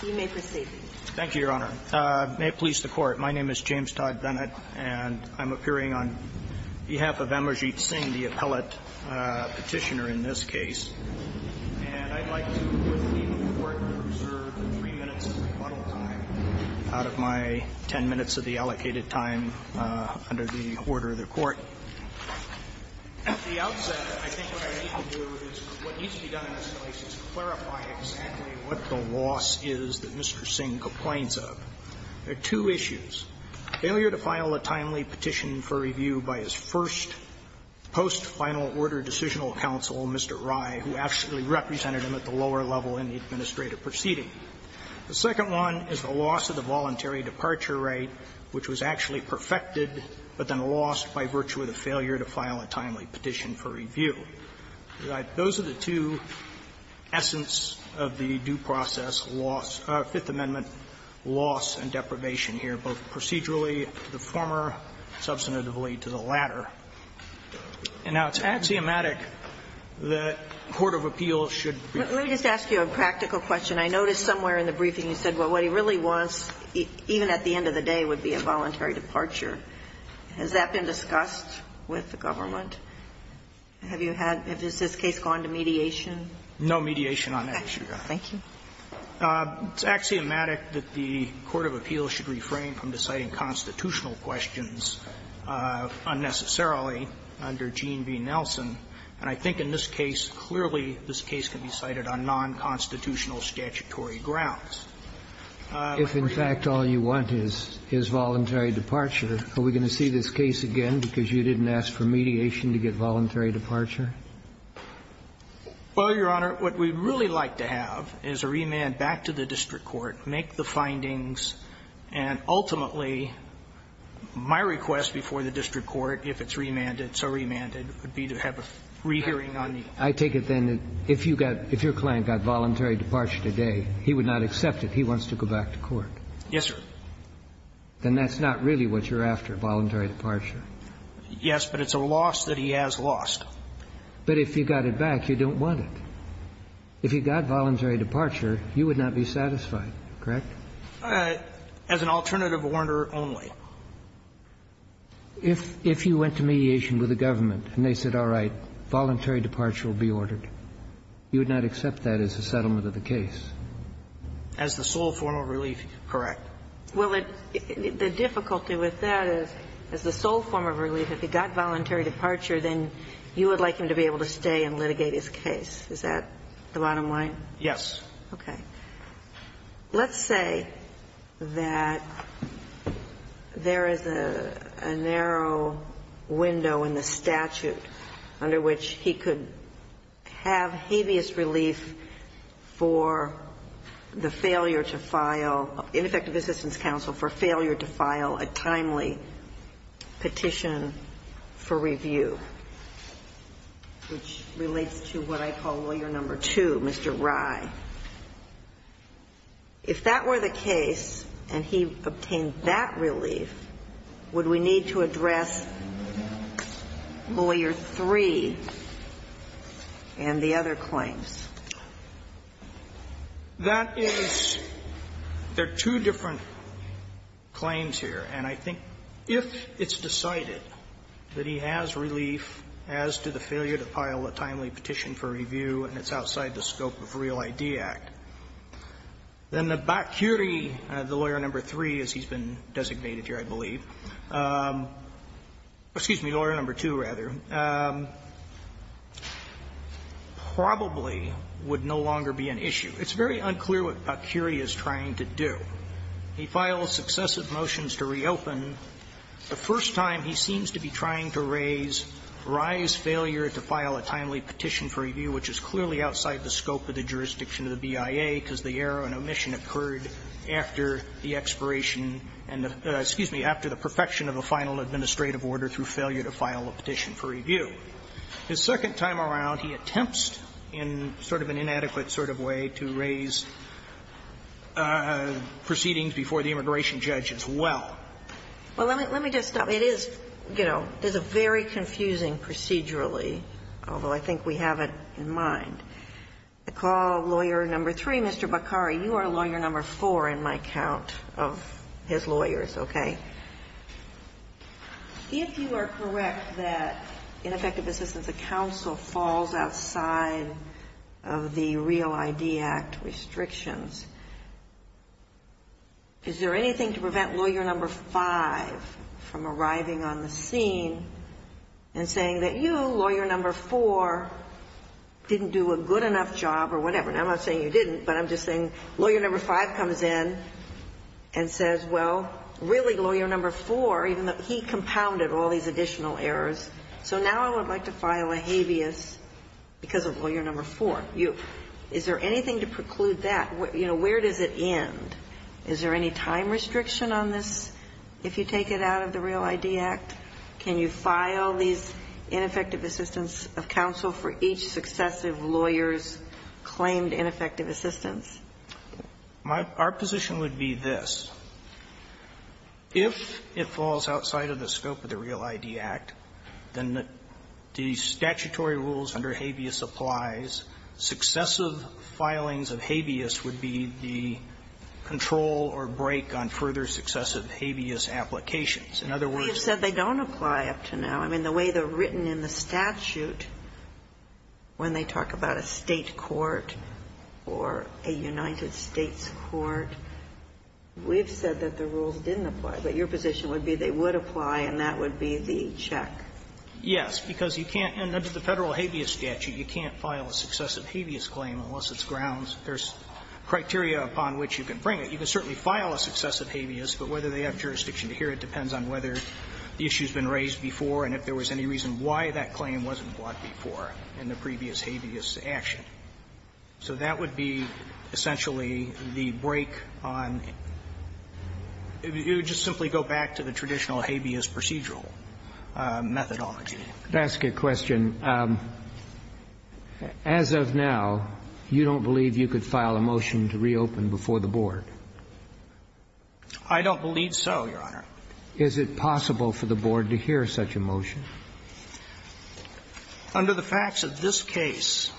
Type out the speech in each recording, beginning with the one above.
He may proceed. Thank you, Your Honor. May it please the Court, my name is James Todd Bennett, and I'm appearing on behalf of Amarjeet Singh, the appellate petitioner in this case. And I'd like to, with the leave of the Court, reserve 3 minutes of rebuttal time out of my 10 minutes of the allocated time under the order of the Court. At the outset, I think what I need to do is what needs to be done in this case is clarify exactly what the loss is that Mr. Singh complains of. There are two issues. Failure to file a timely petition for review by his first post-final order decisional counsel, Mr. Rai, who actually represented him at the lower level in the administrative proceeding. The second one is the loss of the voluntary departure rate, which was actually perfected, but then lost by virtue of the failure to file a timely petition for review. Those are the two essence of the due process loss of Fifth Amendment loss and deprivation here, both procedurally to the former, substantively to the latter. And now, it's axiomatic that court of appeals should be. Let me just ask you a practical question. I noticed somewhere in the briefing you said, well, what he really wants, even at the end of the day, would be a voluntary departure. Has that been discussed with the government? Have you had – has this case gone to mediation? No mediation on that issue, Your Honor. Thank you. It's axiomatic that the court of appeals should refrain from deciding constitutional questions unnecessarily under Gene v. Nelson, and I think in this case, clearly this case can be cited on nonconstitutional statutory grounds. If, in fact, all you want is voluntary departure, are we going to see this case again because you didn't ask for mediation to get voluntary departure? Well, Your Honor, what we'd really like to have is a remand back to the district court, make the findings, and ultimately, my request before the district court, if it's remanded, so remanded, would be to have a free hearing on the case. I take it, then, that if you got – if your client got voluntary departure today, he would not accept it. He wants to go back to court. Yes, sir. Then that's not really what you're after, voluntary departure. Yes, but it's a loss that he has lost. But if you got it back, you don't want it. If you got voluntary departure, you would not be satisfied, correct? As an alternative order only. If you went to mediation with the government and they said, all right, voluntary departure will be ordered, you would not accept that as a settlement of the case? As the sole formal relief, correct. Well, the difficulty with that is, as the sole form of relief, if he got voluntary departure, then you would like him to be able to stay and litigate his case. Is that the bottom line? Yes. Okay. Let's say that there is a narrow window in the statute under which he could have hevious relief for the failure to file, ineffective assistance counsel for failure to file a timely petition for review, which relates to what I call lawyer number two, Mr. Rye. If that were the case and he obtained that relief, would we need to address lawyer three and the other claims? That is, there are two different claims here. And I think if it's decided that he has relief as to the failure to file a timely petition for review and it's outside the scope of Real ID Act, then the bacchuri, the lawyer number three, as he's been designated here, I believe, excuse me, lawyer number two, rather, probably would no longer be an issue. It's very unclear what bacchuri is trying to do. He files successive motions to reopen. The first time, he seems to be trying to raise Rye's failure to file a timely petition for review, which is clearly outside the scope of the jurisdiction of the BIA, because the error and omission occurred after the expiration and the, excuse me, after the perfection of the final administrative order through failure to file a petition for review. The second time around, he attempts in sort of an inadequate sort of way to raise proceedings before the immigration judge as well. Well, let me just stop. It is, you know, it's a very confusing procedurally, although I think we have it in mind. I call lawyer number three, Mr. Bacchuri. You are lawyer number four in my count of his lawyers, okay? If you are correct that in effective assistance, a counsel falls outside of the Real ID Act restrictions, is there anything to prevent lawyer number five from arriving on the scene and saying that you, lawyer number four, didn't do a good enough job or whatever? And I'm not saying you didn't, but I'm just saying lawyer number five comes in and says, well, really, lawyer number four, even though he compounded all these additional errors, so now I would like to file a habeas because of lawyer number four. Is there anything to preclude that? You know, where does it end? Is there any time restriction on this, if you take it out of the Real ID Act? Can you file these ineffective assistance of counsel for each successive lawyer's claimed ineffective assistance? Our position would be this. If it falls outside of the scope of the Real ID Act, then the statutory rules under habeas applies. Successive filings of habeas would be the control or break on further successive habeas applications. In other words they don't apply up to now. I mean, the way they're written in the statute, when they talk about a State court or a United States court, we've said that the rules didn't apply. But your position would be they would apply, and that would be the check. Yes, because you can't, under the Federal habeas statute, you can't file a successive habeas claim unless it's grounds. There's criteria upon which you can bring it. You can certainly file a successive habeas, but whether they have jurisdiction to hear it depends on whether the issue's been raised before and if there was any reason why that claim wasn't brought before in the previous habeas action. So that would be essentially the break on you just simply go back to the traditional habeas procedural methodology. I'd ask a question. As of now, you don't believe you could file a motion to reopen before the Board? I don't believe so, Your Honor. Under the facts of this case,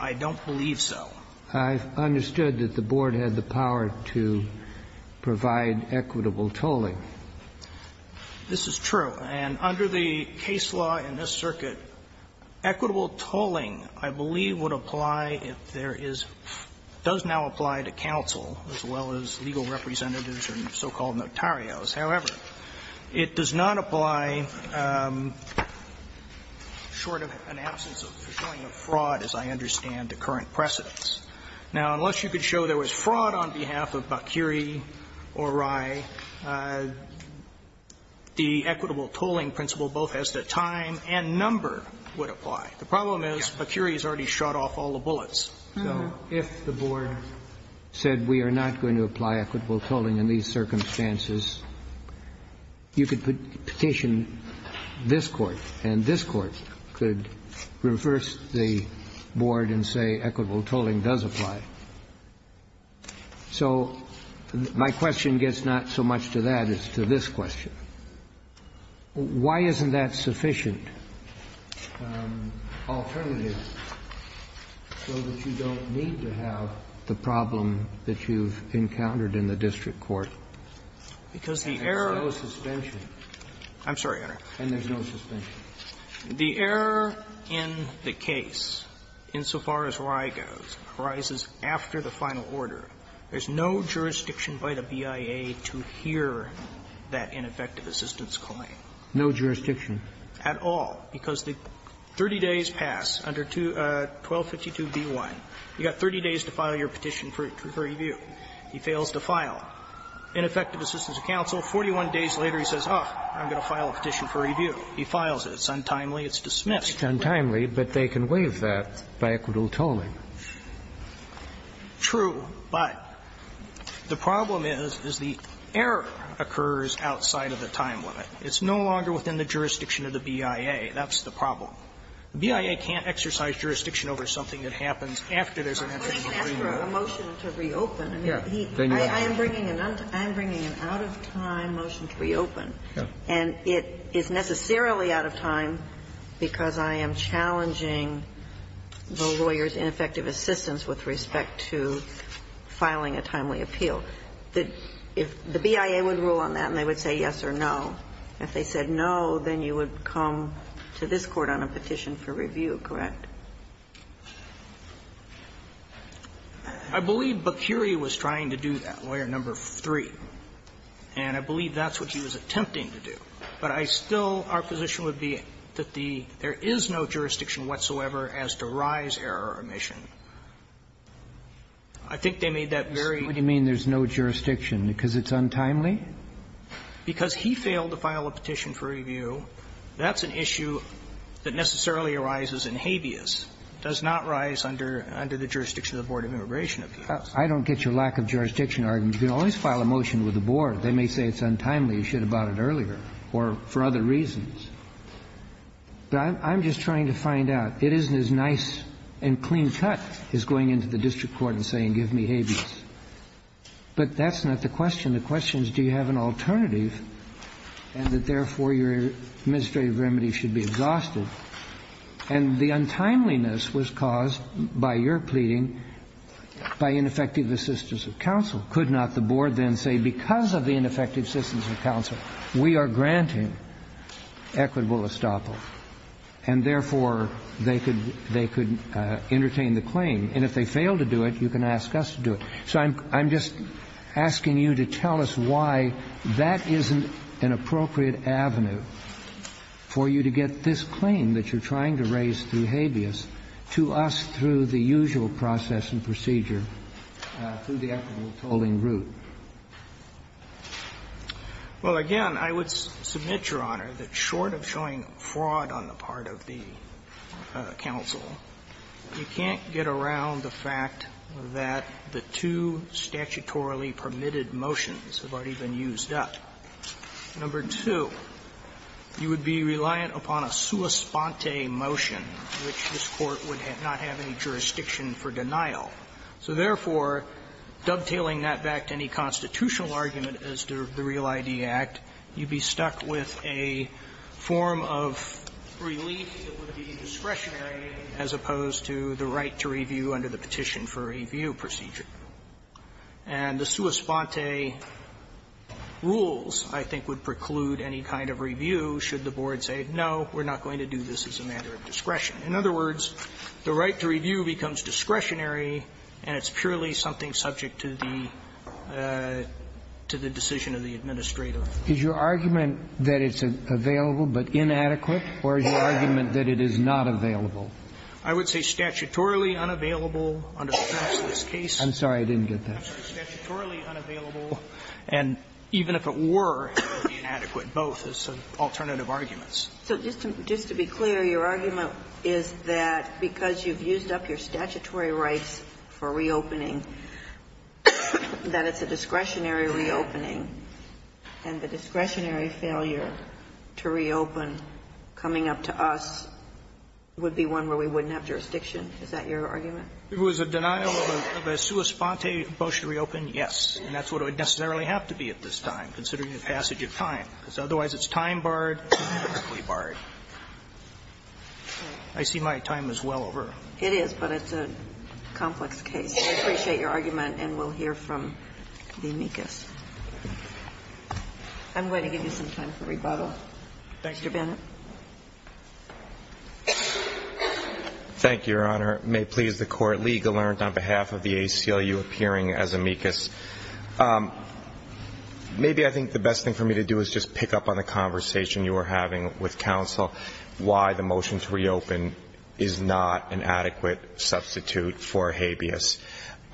I don't believe so. I understood that the Board had the power to provide equitable tolling. This is true. And under the case law in this circuit, equitable tolling, I believe, would apply if there is does now apply to counsel as well as legal representatives and so-called notarios. However, it does not apply short of an absence of fraud, as I understand, to current precedents. Now, unless you could show there was fraud on behalf of Bakiri or Rye, the equitable tolling principle both as the time and number would apply. The problem is Bakiri has already shot off all the bullets. So if the Board said we are not going to apply equitable tolling in these circumstances, you could petition this Court and this Court could reverse the Board and say equitable tolling does apply. So my question gets not so much to that as to this question. Why isn't that sufficient alternative? So that you don't need to have the problem that you've encountered in the district court. And there's no suspension. I'm sorry, Your Honor. And there's no suspension. The error in the case, insofar as Rye goes, arises after the final order. There's no jurisdiction by the BIA to hear that ineffective assistance claim. No jurisdiction? At all. Because the 30 days pass under 1252b1. You've got 30 days to file your petition for review. He fails to file. Ineffective assistance to counsel, 41 days later he says, oh, I'm going to file a petition for review. He files it. It's untimely. It's dismissed. It's untimely, but they can waive that by equitable tolling. True, but the problem is, is the error occurs outside of the time limit. It's no longer within the jurisdiction of the BIA. That's the problem. The BIA can't exercise jurisdiction over something that happens after there's an entry in the agreement. I'm asking for a motion to reopen. I mean, I am bringing an out-of-time motion to reopen. And it is necessarily out of time because I am challenging the lawyer's ineffective assistance with respect to filing a timely appeal. So if the BIA would rule on that and they would say yes or no, if they said no, then you would come to this Court on a petition for review, correct? I believe Bakuri was trying to do that, Lawyer No. 3. And I believe that's what he was attempting to do. But I still, our position would be that there is no jurisdiction whatsoever as to rise error or omission. I think they made that very clear. Kennedy, what do you mean there's no jurisdiction? Because it's untimely? Because he failed to file a petition for review, that's an issue that necessarily arises in habeas. It does not rise under the jurisdiction of the Board of Immigration Appeals. I don't get your lack of jurisdiction argument. You can always file a motion with the Board. They may say it's untimely, you should have brought it earlier, or for other reasons. I'm just trying to find out. It isn't as nice and clean-cut as going into the district court and saying give me habeas. But that's not the question. The question is do you have an alternative and that, therefore, your administrative remedy should be exhausted. And the untimeliness was caused by your pleading by ineffective assistance of counsel. Could not the Board then say because of the ineffective assistance of counsel, we are granting equitable estoppel, and, therefore, they could entertain the claim? And if they fail to do it, you can ask us to do it. So I'm just asking you to tell us why that isn't an appropriate avenue for you to get this claim that you're trying to raise through habeas to us through the usual process and procedure, through the equitable tolling route. Well, again, I would submit, Your Honor, that short of showing fraud on the part of the counsel, you can't get around the fact that the two statutorily permitted motions have already been used up. Number two, you would be reliant upon a sua sponte motion, which this Court would not have any jurisdiction for denial. So, therefore, dovetailing that back to any constitutional argument as to the Real I.D. Act, you'd be stuck with a form of relief that would be discretionary as opposed to the right to review under the Petition for Review procedure. And the sua sponte rules, I think, would preclude any kind of review should the Board say, no, we're not going to do this as a matter of discretion. In other words, the right to review becomes discretionary, and it's purely something that is subject to the decision of the administrator. Is your argument that it's available but inadequate, or is your argument that it is not available? I would say statutorily unavailable under the premise of this case. I'm sorry, I didn't get that. I'm sorry. Statutorily unavailable, and even if it were, it would be inadequate both as alternative arguments. Sotomayor, your argument is that the discretionary rights for reopening, that it's a discretionary reopening, and the discretionary failure to reopen coming up to us would be one where we wouldn't have jurisdiction. Is that your argument? It was a denial of a sua sponte motion to reopen, yes, and that's what it would necessarily have to be at this time, considering the passage of time, because it's a complex case. I appreciate your argument, and we'll hear from the amicus. I'm going to give you some time for rebuttal. Thank you. Mr. Bennett. Thank you, Your Honor. May it please the Court, legalernt on behalf of the ACLU appearing as amicus. Maybe I think the best thing for me to do is just pick up on the conversation you were having with counsel why the motion to reopen is not an adequate substitute for habeas.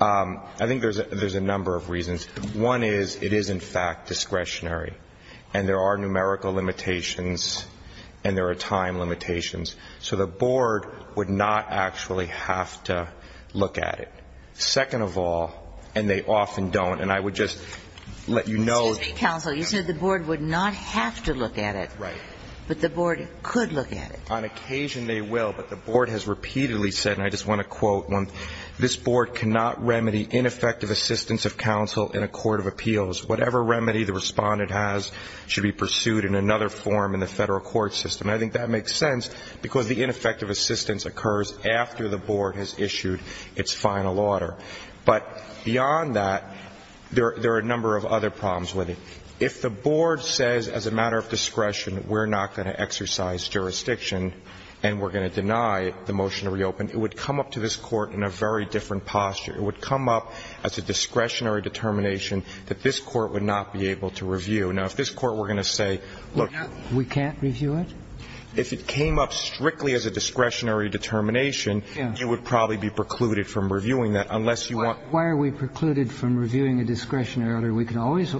I think there's a number of reasons. One is it is, in fact, discretionary, and there are numerical limitations, and there are time limitations. So the board would not actually have to look at it. Second of all, and they often don't, and I would just let you know. Excuse me, counsel. You said the board would not have to look at it, but the board could look at it. On occasion, they will, but the board has repeatedly said, and I just want to quote one, this board cannot remedy ineffective assistance of counsel in a court of appeals. Whatever remedy the respondent has should be pursued in another form in the federal court system. I think that makes sense because the ineffective assistance occurs after the board has issued its final order. But beyond that, there are a number of other problems with it. If the board says, as a matter of discretion, we're not going to exercise jurisdiction and we're going to deny the motion to reopen, it would come up to this court in a very different posture. It would come up as a discretionary determination that this court would not be able to review. Now, if this court were going to say, look We can't review it? If it came up strictly as a discretionary determination, you would probably be precluded from reviewing that unless you want Why are we precluded from reviewing a discretion earlier? We can always,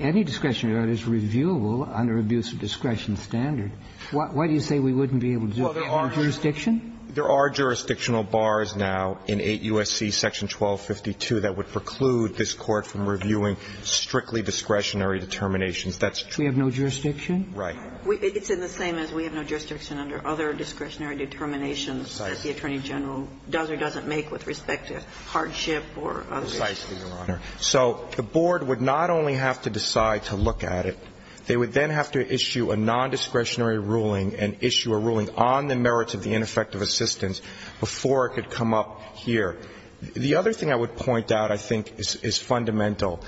any discretionary order is reviewable under abuse of discretion standard. Why do you say we wouldn't be able to do it under jurisdiction? There are jurisdictional bars now in 8 U.S.C. Section 1252 that would preclude this court from reviewing strictly discretionary determinations. That's true. We have no jurisdiction? Right. It's in the same as we have no jurisdiction under other discretionary determinations that the Attorney General does or doesn't make with respect to hardship or other things. Precisely, Your Honor. So the board would not only have to decide to look at it, they would then have to issue a nondiscretionary ruling and issue a ruling on the merits of the ineffective assistance before it could come up here. The other thing I would point out I think is fundamental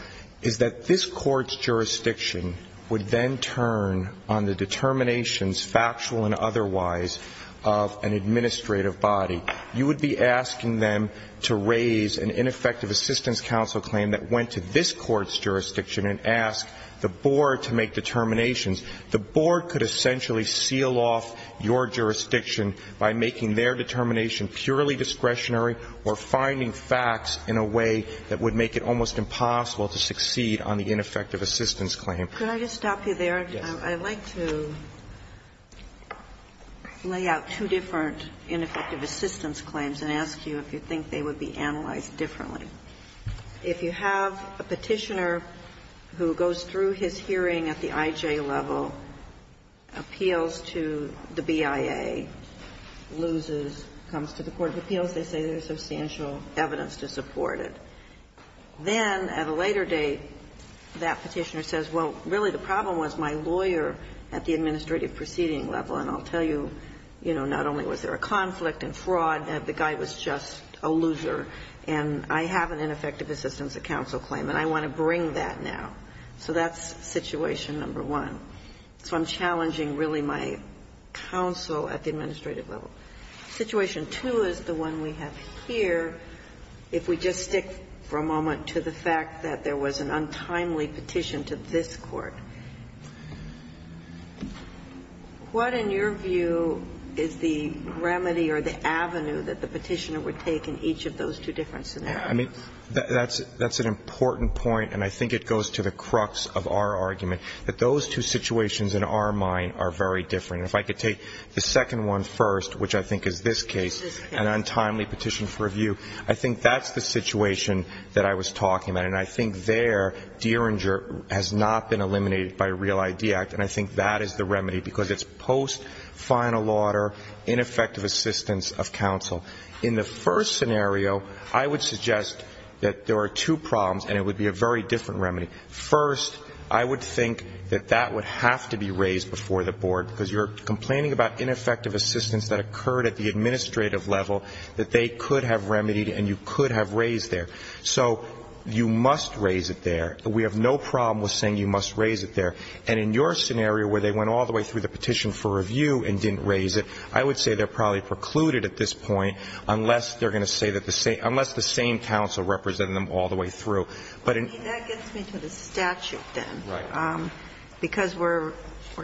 is that this court's jurisdiction would then turn on the determinations, factual and otherwise, of an administrative body. You would be asking them to raise an ineffective assistance counsel claim that went to this court's jurisdiction and ask the board to make determinations. The board could essentially seal off your jurisdiction by making their determination purely discretionary or finding facts in a way that would make it almost impossible to succeed on the ineffective assistance claim. Could I just stop you there? Yes. I'd like to lay out two different ineffective assistance claims and ask you if you think they would be analyzed differently. If you have a Petitioner who goes through his hearing at the IJ level, appeals to the BIA, loses, comes to the court of appeals, they say there's substantial evidence to support it. Then at a later date, that Petitioner says, well, really the problem was my lawyer at the administrative proceeding level, and I'll tell you, you know, not only was there a conflict and fraud, the guy was just a loser, and I have an ineffective assistance counsel claim and I want to bring that now. So that's situation number one. So I'm challenging really my counsel at the administrative level. Situation two is the one we have here. If we just stick for a moment to the fact that there was an untimely petition to this Court, what, in your view, is the remedy or the avenue that the Petitioner would take in each of those two different scenarios? I mean, that's an important point, and I think it goes to the crux of our argument, that those two situations in our mind are very different. If I could take the second one first, which I think is this case, an untimely petition for review, I think that's the situation that I was talking about, and I think there, Dieringer has not been eliminated by a Real ID Act, and I think that is the remedy, because it's post-final order, ineffective assistance of counsel. In the first scenario, I would suggest that there are two problems, and it would be a very different remedy. First, I would think that that would have to be raised before the board, because you're complaining about ineffective assistance that occurred at the administrative level that they could have remedied, and you could have raised there. So you must raise it there. We have no problem with saying you must raise it there. And in your scenario, where they went all the way through the petition for review and didn't raise it, I would say they're probably precluded at this point, unless they're going to say that the same unless the same counsel represented them all the way through. But in That gets me to the statute, then, because we're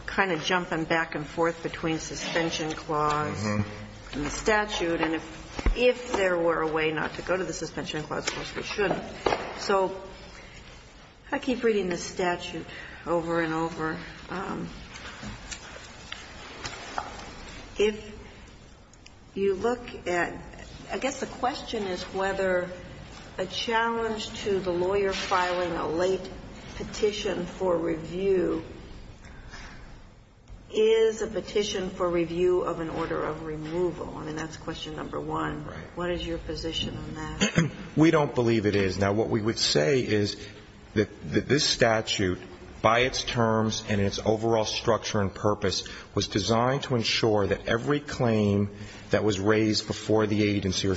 kind of jumping back and forth between suspension clause and the statute, and if there were a way not to go to the suspension clause, of course, we shouldn't. So I keep reading the statute over and over. If you look at the question is whether a challenge to the lawyer filing a late petition for review is a petition for review of an order of removal, I mean, that's question number one. Right. What is your position on that? We don't believe it is. Now, what we would say is that this statute, by its terms and its overall structure and purpose, was designed to ensure that every claim that was raised before the agency the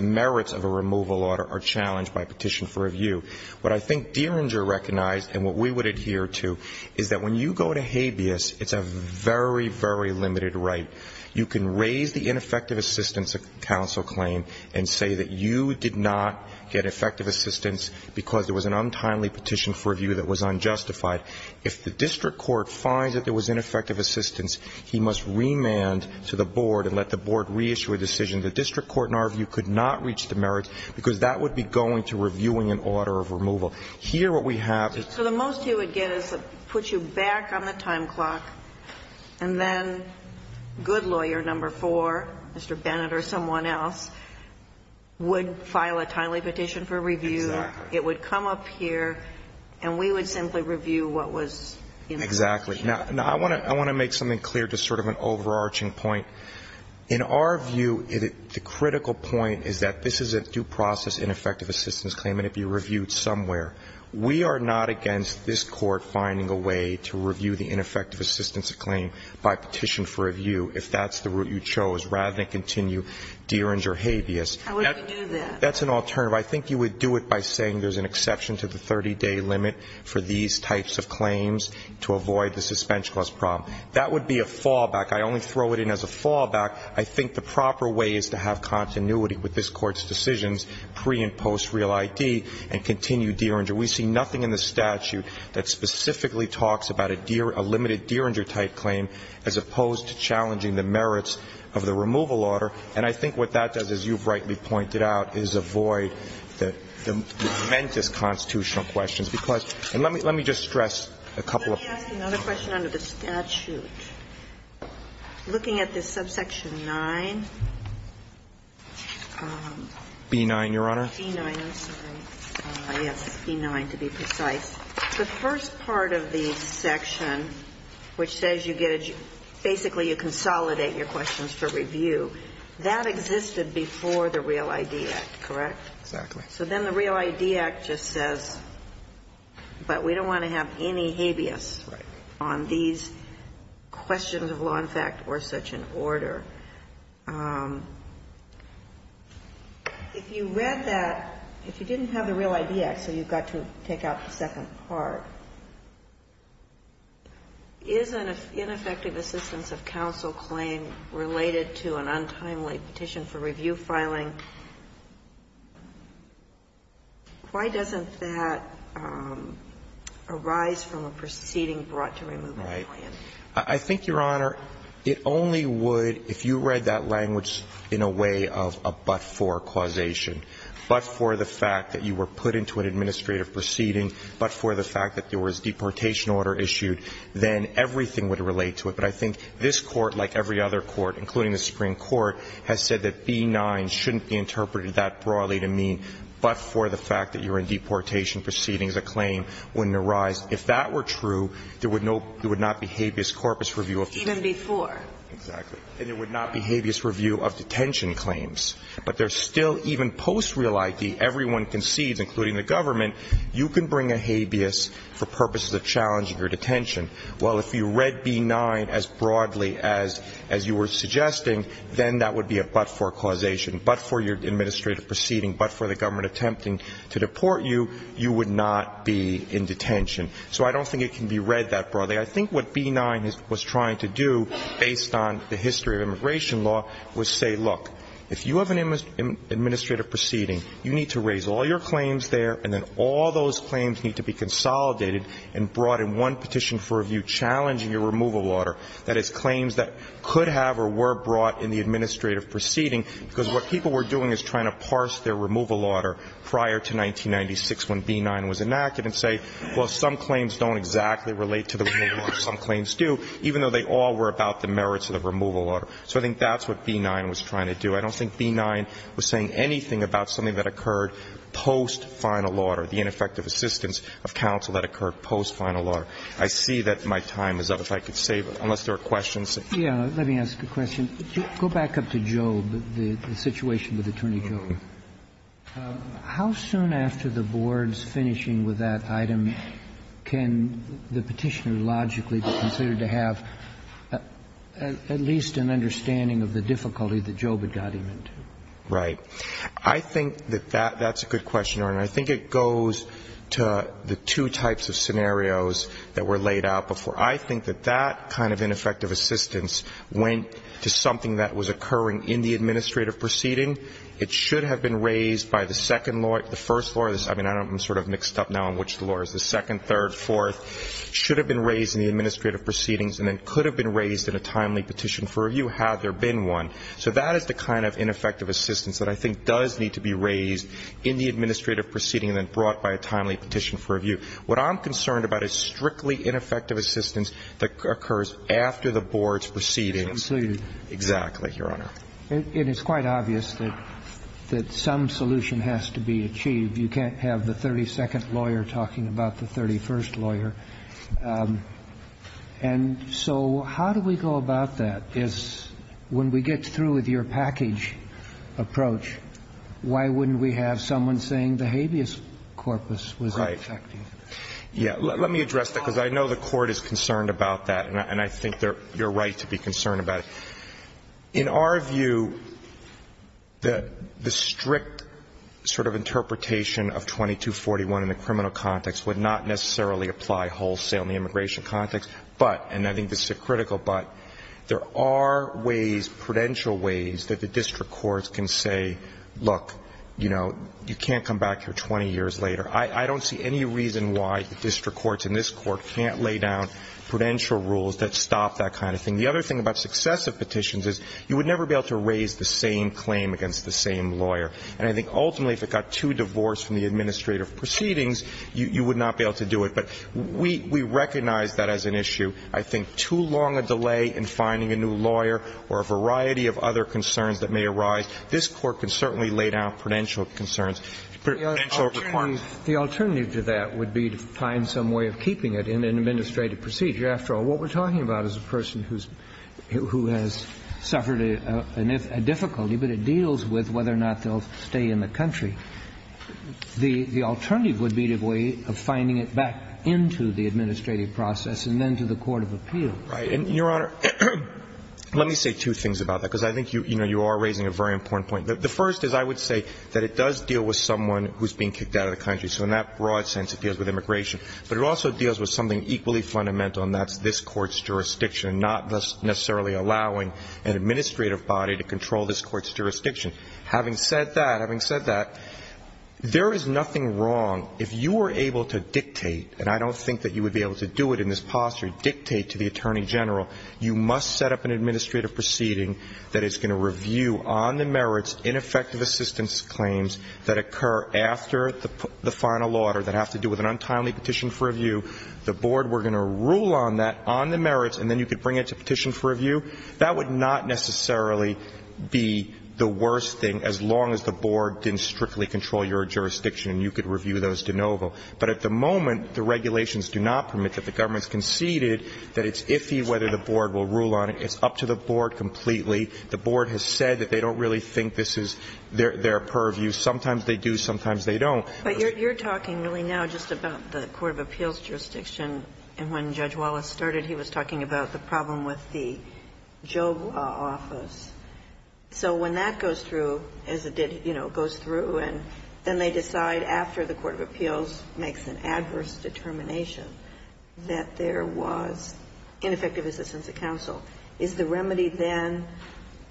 merits of a removal order are challenged by a petition for review. What I think Deeringer recognized and what we would adhere to is that when you go to habeas, it's a very, very limited right. You can raise the ineffective assistance of counsel claim and say that you did not get effective assistance because there was an untimely petition for review that was unjustified. If the district court finds that there was ineffective assistance, he must remand to the board and let the board reissue a decision. The district court, in our view, could not reach the merits because that would be going to reviewing an order of removal. Here, what we have is. So the most you would get is to put you back on the time clock and then good lawyer number four, Mr. Bennett or someone else, would file a timely petition for review. Exactly. It would come up here and we would simply review what was. Exactly. Now, I want to make something clear to sort of an overarching point. In our view, the critical point is that this is a due process ineffective assistance claim and it would be reviewed somewhere. We are not against this court finding a way to review the ineffective assistance of claim by petition for review if that's the route you chose rather than continue Deeringer habeas. How would we do that? That's an alternative. I think you would do it by saying there's an exception to the 30-day limit for these types of claims to avoid the suspension cost problem. That would be a fallback. I only throw it in as a fallback. I think the proper way is to have continuity with this court's decisions pre- and post-real ID and continue Deeringer. We see nothing in the statute that specifically talks about a limited Deeringer type claim as opposed to challenging the merits of the removal order. And I think what that does, as you've rightly pointed out, is avoid the momentous constitutional questions. And let me just stress a couple of points. Let me ask another question under the statute. Looking at this subsection 9. B-9, Your Honor. B-9. I'm sorry. Yes, B-9 to be precise. The first part of the section which says you get a, basically you consolidate your questions for review, that existed before the Real ID Act, correct? Exactly. So then the Real ID Act just says, but we don't want to have any habeas on these questions of law and fact or such an order. If you read that, if you didn't have the Real ID Act, so you've got to take out the second part, is an ineffective assistance of counsel claim related to an untimely petition for review filing, why doesn't that arise from a proceeding brought to removal? Right. I think, Your Honor, it only would, if you read that language in a way of a but-for causation, but for the fact that you were put into an administrative proceeding, but for the fact that there was deportation order issued, then everything would relate to it. But I think this Court, like every other court, including the Supreme Court, has said that B-9 shouldn't be interpreted that broadly to mean but for the fact that you're in deportation proceedings, a claim wouldn't arise. If that were true, there would not be habeas corpus review of the case. Even before. Exactly. And there would not be habeas review of detention claims. But there's still, even post Real ID, everyone concedes, including the government, you can bring a habeas for purposes of challenging your detention. Well, if you read B-9 as broadly as you were suggesting, then that would be a but-for causation, but for your administrative proceeding, but for the government attempting to deport you, you would not be in detention. So I don't think it can be read that broadly. I think what B-9 was trying to do, based on the history of immigration law, was say, look, if you have an administrative proceeding, you need to raise all your claims there, and then all those claims need to be consolidated and brought in one petition for review challenging your removal order, that is, claims that could have or were brought in the administrative proceeding, because what people were doing is trying to parse their removal order prior to 1996 when B-9 was enacted and say, well, some claims don't exactly relate to the removal order, some claims do, even though they all were about the merits of the removal order. So I think that's what B-9 was trying to do. I don't think B-9 was saying anything about something that occurred post-final order, the ineffective assistance of counsel that occurred post-final order. I see that my time is up. If I could save it, unless there are questions. Let me ask a question. Go back up to Job, the situation with Attorney Job. How soon after the board's finishing with that item can the Petitioner logically be considered to have at least an understanding of the difficulty that Job had got him into? Right. I think that that's a good question, Your Honor. I think it goes to the two types of scenarios that were laid out before. I think that that kind of ineffective assistance went to something that was occurring in the administrative proceeding. It should have been raised by the second law, the first law. I mean, I'm sort of mixed up now on which the law is. The second, third, fourth should have been raised in the administrative proceedings and then could have been raised in a timely petition for review had there been one. So that is the kind of ineffective assistance that I think does need to be raised in the administrative proceeding and then brought by a timely petition for review. What I'm concerned about is strictly ineffective assistance that occurs after the board's proceedings. Concluded. Exactly, Your Honor. And it's quite obvious that some solution has to be achieved. You can't have the 32nd lawyer talking about the 31st lawyer. And so how do we go about that? Is when we get through with your package approach, why wouldn't we have someone saying the habeas corpus was ineffective? Right. Yeah. Let me address that, because I know the Court is concerned about that, and I think you're right to be concerned about it. In our view, the strict sort of interpretation of 2241 in the criminal context would not necessarily apply wholesale in the immigration context. But, and I think this is a critical but, there are ways, prudential ways that the district courts can say, look, you know, you can't come back here 20 years later. I don't see any reason why the district courts in this Court can't lay down prudential rules that stop that kind of thing. The other thing about successive petitions is you would never be able to raise the same claim against the same lawyer. And I think ultimately if it got too divorced from the administrative proceedings, you would not be able to do it. But we recognize that as an issue. I think too long a delay in finding a new lawyer or a variety of other concerns that may arise, this Court can certainly lay down prudential concerns, prudential requirements. The alternative to that would be to find some way of keeping it in an administrative procedure. After all, what we're talking about is a person who's, who has suffered a difficulty, but it deals with whether or not they'll stay in the country. The alternative would be a way of finding it back into the administrative process and then to the court of appeal. Right. And, Your Honor, let me say two things about that, because I think, you know, you are raising a very important point. The first is I would say that it does deal with someone who's being kicked out of the country. So in that broad sense, it deals with immigration. But it also deals with something equally fundamental, and that's this Court's jurisdiction. Not necessarily allowing an administrative body to control this Court's jurisdiction. Having said that, having said that, there is nothing wrong, if you were able to dictate, and I don't think that you would be able to do it in this posture, dictate to the Attorney General, you must set up an administrative proceeding that is going to review on the merits ineffective assistance claims that occur after the final order that have to do with an untimely petition for review. The board were going to rule on that, on the merits, and then you could bring it to petition for review. That would not necessarily be the worst thing as long as the board didn't strictly control your jurisdiction and you could review those de novo. But at the moment, the regulations do not permit that. The government has conceded that it's iffy whether the board will rule on it. It's up to the board completely. The board has said that they don't really think this is their purview. Sometimes they do, sometimes they don't. Ginsburg. But you're talking really now just about the court of appeals jurisdiction. And when Judge Wallace started, he was talking about the problem with the Joe office. So when that goes through, as it did, you know, goes through, and then they decide after the court of appeals makes an adverse determination that there was ineffective assistance at counsel, is the remedy then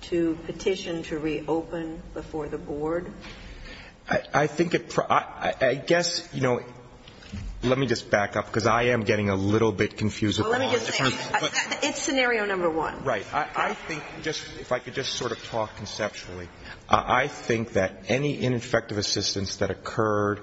to petition to reopen before the board makes an adverse determination to reopen? I think it probably – I guess, you know, let me just back up, because I am getting a little bit confused at the moment. Well, let me just say, it's scenario number one. Right. I think just – if I could just sort of talk conceptually, I think that any ineffective assistance that occurred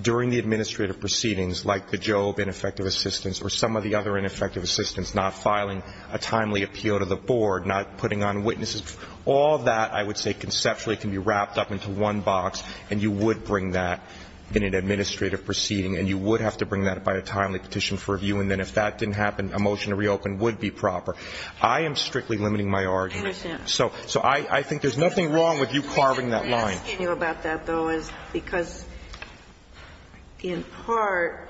during the administrative proceedings, like the Jobe ineffective assistance or some of the other ineffective assistance, not filing a timely appeal to the board, not putting on witnesses, all that I would say conceptually can be wrapped up into one box, and you would bring that in an administrative proceeding, and you would have to bring that by a timely petition for review. And then if that didn't happen, a motion to reopen would be proper. I am strictly limiting my argument. I understand. So I think there's nothing wrong with you carving that line. What I'm asking you about that, though, is because, in part,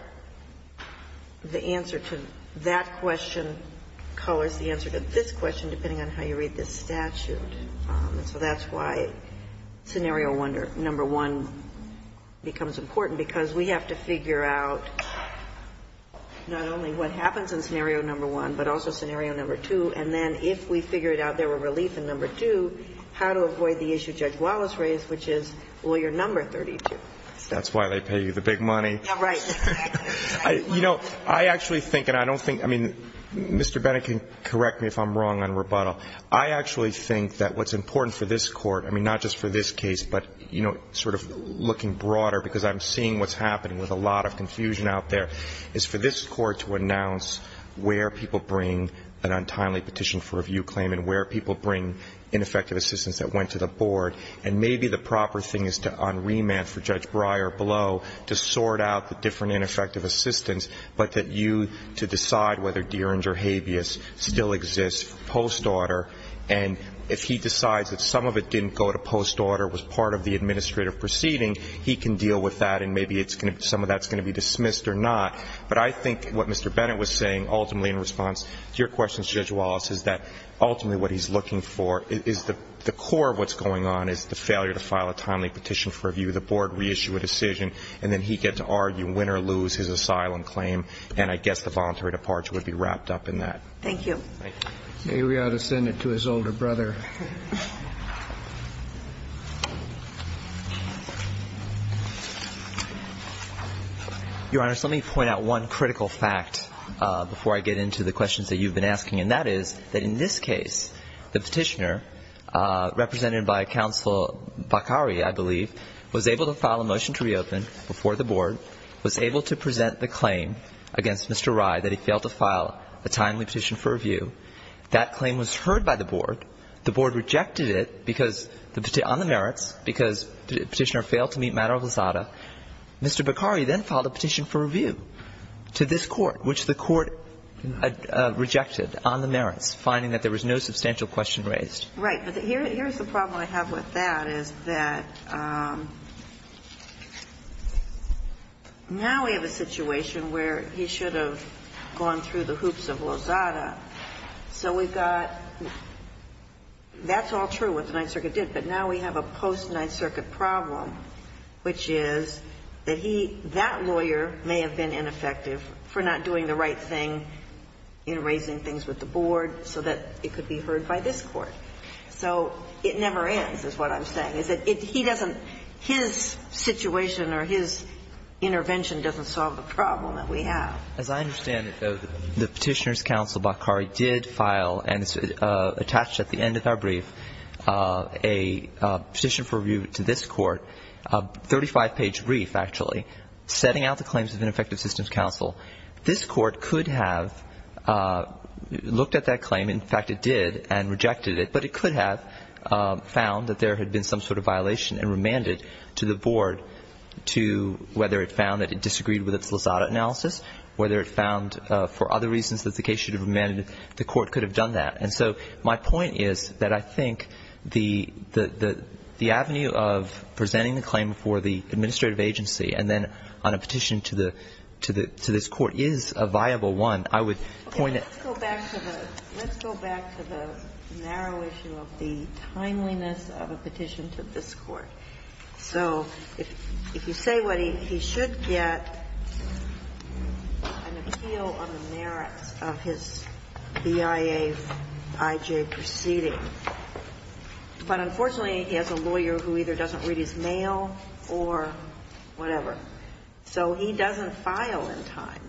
the answer to that question colors the answer to this question, depending on how you read this statute. And so that's why scenario number one becomes important, because we have to figure out not only what happens in scenario number one, but also scenario number two. And then if we figure it out, there were relief in number two, how to avoid the issue Judge Wallace raised, which is, will your number 32? That's why they pay you the big money. Right. You know, I actually think, and I don't think, I mean, Mr. Bennett can correct me if I'm wrong on rebuttal. I actually think that what's important for this Court, I mean, not just for this case, but, you know, sort of looking broader, because I'm seeing what's happening with a lot of confusion out there, is for this Court to announce where people bring an untimely petition for review claim and where people bring ineffective assistance that went to the board. And maybe the proper thing is to, on remand for Judge Breyer below, to sort out the different ineffective assistance, but that you, to decide whether Dieringer habeas still exists for post-order. And if he decides that some of it didn't go to post-order, was part of the administrative proceeding, he can deal with that, and maybe some of that's going to be dismissed or not. But I think what Mr. Bennett was saying, ultimately, in response to your question, Judge Wallace, is that ultimately what he's looking for is the core of what's going on is the failure to file a timely petition for review. The board reissue a decision, and then he gets to argue win or lose his asylum claim, and I guess the voluntary departure would be wrapped up in that. Thank you. Thank you. Maybe we ought to send it to his older brother. Your Honors, let me point out one critical fact before I get into the questions that you've been asking, and that is that in this case, the Petitioner, represented by Counsel Bakari, I believe, was able to file a motion to reopen before the board, was able to present the claim against Mr. Rye that he failed to file a timely petition for review. That claim was heard by the board. The board rejected it because the merits, because the Petitioner failed to meet matter of Lizada. Mr. Bakari then filed a petition for review to this Court, which the Court rejected on the merits, finding that there was no substantial question raised. Right. But here's the problem I have with that, is that now we have a situation where he should have gone through the hoops of Lizada. So we've got that's all true what the Ninth Circuit did, but now we have a post-Ninth Circuit problem, which is that he, that lawyer may have been ineffective for not doing the right thing in raising things with the board so that it could be heard by this Court. So it never ends is what I'm saying, is that he doesn't, his situation or his intervention doesn't solve the problem that we have. As I understand it, though, the Petitioner's counsel, Bakari, did file and attach at the end of our brief a petition for review to this Court, a 35-page brief, actually, setting out the claims of an effective systems counsel. This Court could have looked at that claim. In fact, it did and rejected it, but it could have found that there had been some sort of violation and remanded to the board to whether it found that it disagreed with its Lizada analysis, whether it found for other reasons that the case should have been remanded, the Court could have done that. And so my point is that I think the avenue of presenting the claim for the administrative agency and then on a petition to the, to this Court is a viable one. I would point at that. Ginsburg. Let's go back to the narrow issue of the timeliness of a petition to this Court. So if you say what he should get, an appeal on the merits of his BIA I.J. proceeding. But unfortunately, he has a lawyer who either doesn't read his mail or whatever. So he doesn't file in time.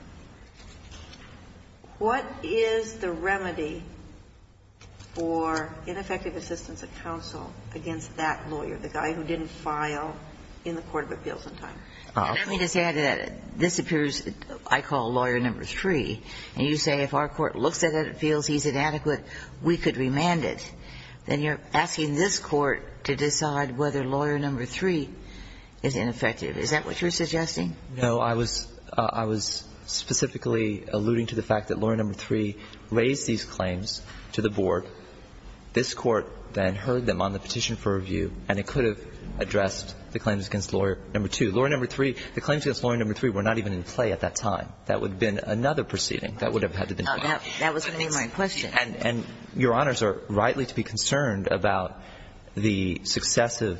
What is the remedy for ineffective assistance of counsel against that lawyer, the guy who didn't file in the court of appeals in time? And let me just add to that. This appears, I call lawyer number three, and you say if our court looks at it, feels he's inadequate, we could remand it. Then you're asking this Court to decide whether lawyer number three is ineffective. Is that what you're suggesting? No. I was, I was specifically alluding to the fact that lawyer number three raised these claims to the board. This Court then heard them on the petition for review, and it could have addressed the claims against lawyer number two. Lawyer number three, the claims against lawyer number three were not even in play at that time. That would have been another proceeding that would have had to be made. That was a mainline question. And, and Your Honors are rightly to be concerned about the successive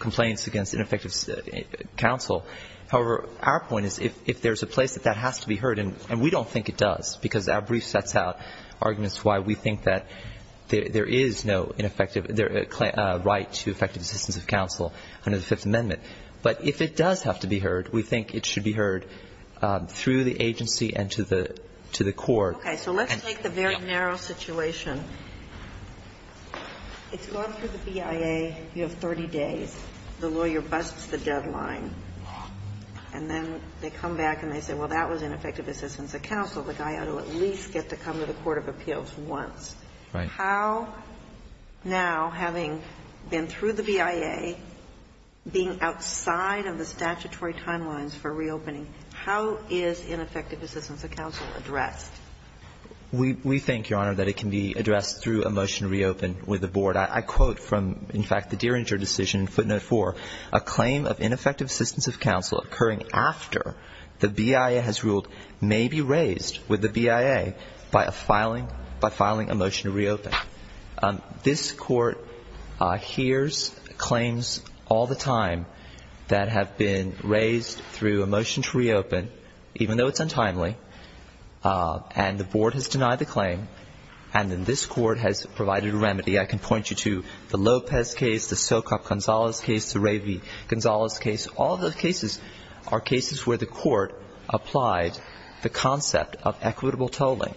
complaints against ineffective counsel. However, our point is if there's a place that that has to be heard, and we don't think it does, because our brief sets out arguments why we think that there is no ineffective, right to effective assistance of counsel under the Fifth Amendment. But if it does have to be heard, we think it should be heard through the agency and to the, to the court. Okay. So let's take the very narrow situation. It's gone through the BIA, you have 30 days, the lawyer busts the deadline, and then they come back and they say, well, that was ineffective assistance of counsel. The guy ought to at least get to come to the court of appeals once. Right. How now, having been through the BIA, being outside of the statutory timelines for reopening, how is ineffective assistance of counsel addressed? We, we think, Your Honor, that it can be addressed through a motion to reopen with the board. I, I quote from, in fact, the Dieringer decision in footnote four, a claim of ineffective assistance of counsel occurring after the BIA has ruled may be raised with the BIA by a filing, by filing a motion to reopen. This court hears claims all the time that have been raised through a motion to reopen, and the board has denied the claim, and then this court has provided a remedy. I can point you to the Lopez case, the Sokup-Gonzalez case, the Ravy-Gonzalez case. All those cases are cases where the court applied the concept of equitable tolling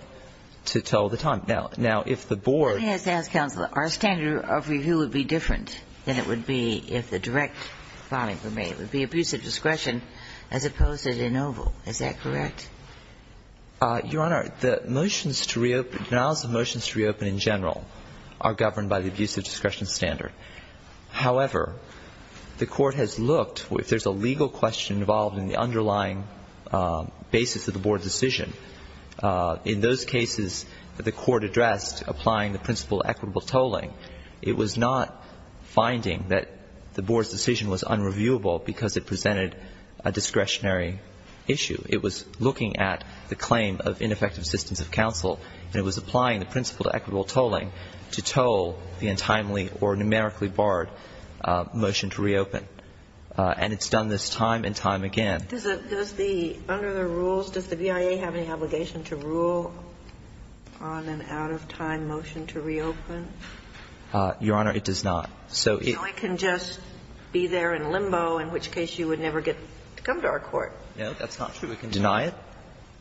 to toll the time. Now, now, if the board. Let me just ask counsel, our standard of review would be different than it would be if the direct filing were made. It would be abuse of discretion as opposed to de novo. Is that correct? Your Honor, the motions to reopen, denials of motions to reopen in general are governed by the abuse of discretion standard. However, the court has looked, if there's a legal question involved in the underlying basis of the board's decision, in those cases that the court addressed applying the principle of equitable tolling, it was not finding that the board's decision was unreviewable because it presented a discretionary issue. It was looking at the claim of ineffective systems of counsel, and it was applying the principle of equitable tolling to toll the untimely or numerically barred motion to reopen. And it's done this time and time again. Does the, under the rules, does the BIA have any obligation to rule on an out-of-time motion to reopen? Your Honor, it does not. So it. You can just be there in limbo, in which case you would never get to come to our court. No, that's not true. We can deny it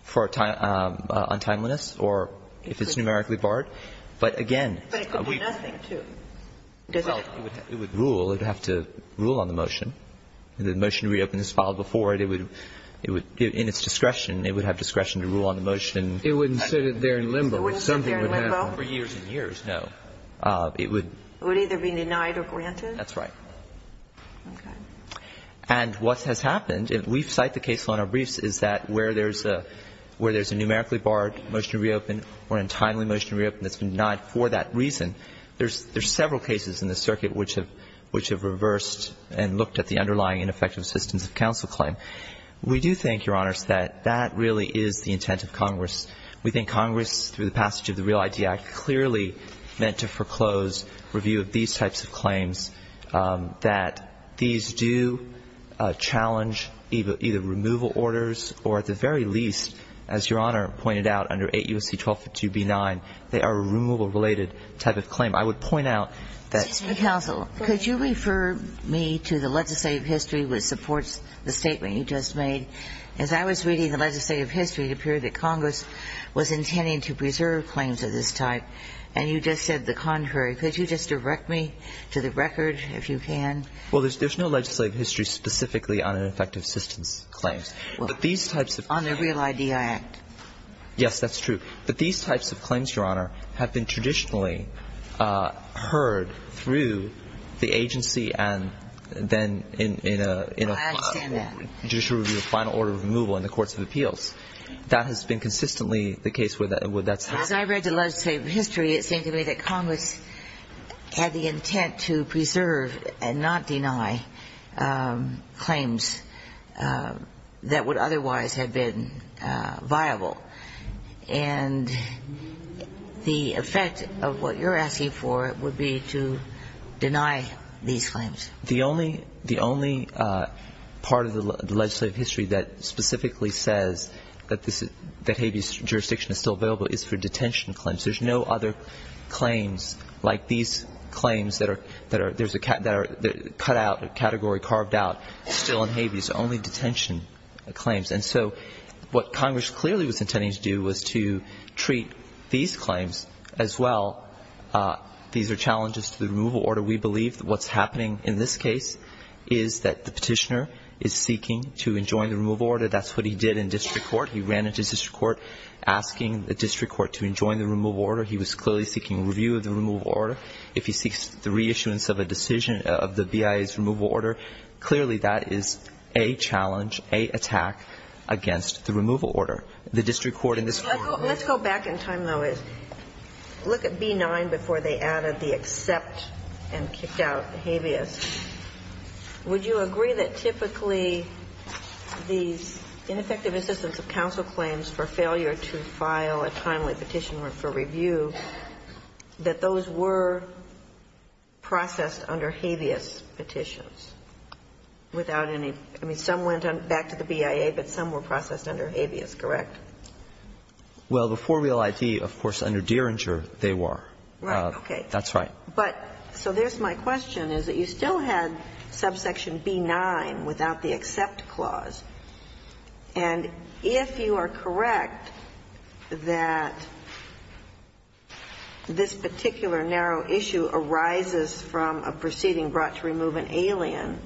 for untimeliness or if it's numerically barred. But again, we. But it could be nothing, too. Well, it would rule. It would have to rule on the motion. The motion to reopen is filed before it. It would, in its discretion, it would have discretion to rule on the motion. It wouldn't sit there in limbo. It wouldn't sit there in limbo. For years and years, no. It would. It would either be denied or granted? That's right. Okay. And what has happened, and we cite the case on our briefs, is that where there's a numerically barred motion to reopen or untimely motion to reopen that's been denied for that reason, there's several cases in the circuit which have reversed and looked at the underlying ineffective systems of counsel claim. We do think, Your Honors, that that really is the intent of Congress. We think Congress, through the passage of the REAL ID Act, clearly meant to foreclose review of these types of claims, that these do challenge either removal orders or, at the very least, as Your Honor pointed out, under 8 U.S.C. 1252 B-9, they are a removal-related type of claim. I would point out that ---- Mr. Counsel, could you refer me to the legislative history which supports the statement you just made? As I was reading the legislative history, it appeared that Congress was intending to preserve claims of this type, and you just said the contrary. Could you just direct me to the record, if you can? Well, there's no legislative history specifically on ineffective systems claims. But these types of ---- On the REAL ID Act. Yes, that's true. But these types of claims, Your Honor, have been traditionally heard through the agency and then in a ---- I understand that. ---- judicial review of final order of removal in the courts of appeals. That has been consistently the case where that's ---- As I read the legislative history, it seemed to me that Congress had the intent to preserve and not deny claims that would otherwise have been viable. And the effect of what you're asking for would be to deny these claims. The only ---- the only part of the legislative history that specifically says that There's no other claims like these claims that are ---- that are cut out, category carved out, still in habeas, only detention claims. And so what Congress clearly was intending to do was to treat these claims as well. These are challenges to the removal order. We believe that what's happening in this case is that the Petitioner is seeking to enjoin the removal order. That's what he did in district court. He ran into district court asking the district court to enjoin the removal order. He was clearly seeking review of the removal order. If he seeks the reissuance of a decision of the BIA's removal order, clearly that is a challenge, a attack against the removal order. The district court in this case ---- Let's go back in time, though. Look at B-9 before they added the except and kicked out habeas. Would you agree that typically these ineffective assistance of counsel claims for failure to file a timely petition or for review, that those were processed under habeas petitions without any ---- I mean, some went back to the BIA, but some were processed under habeas, correct? Well, before Real IT, of course, under Dieringer, they were. Right. Okay. That's right. But so there's my question, is that you still had subsection B-9 without the except clause, and if you are correct that this particular narrow issue arises from a proceeding brought to remove an alien,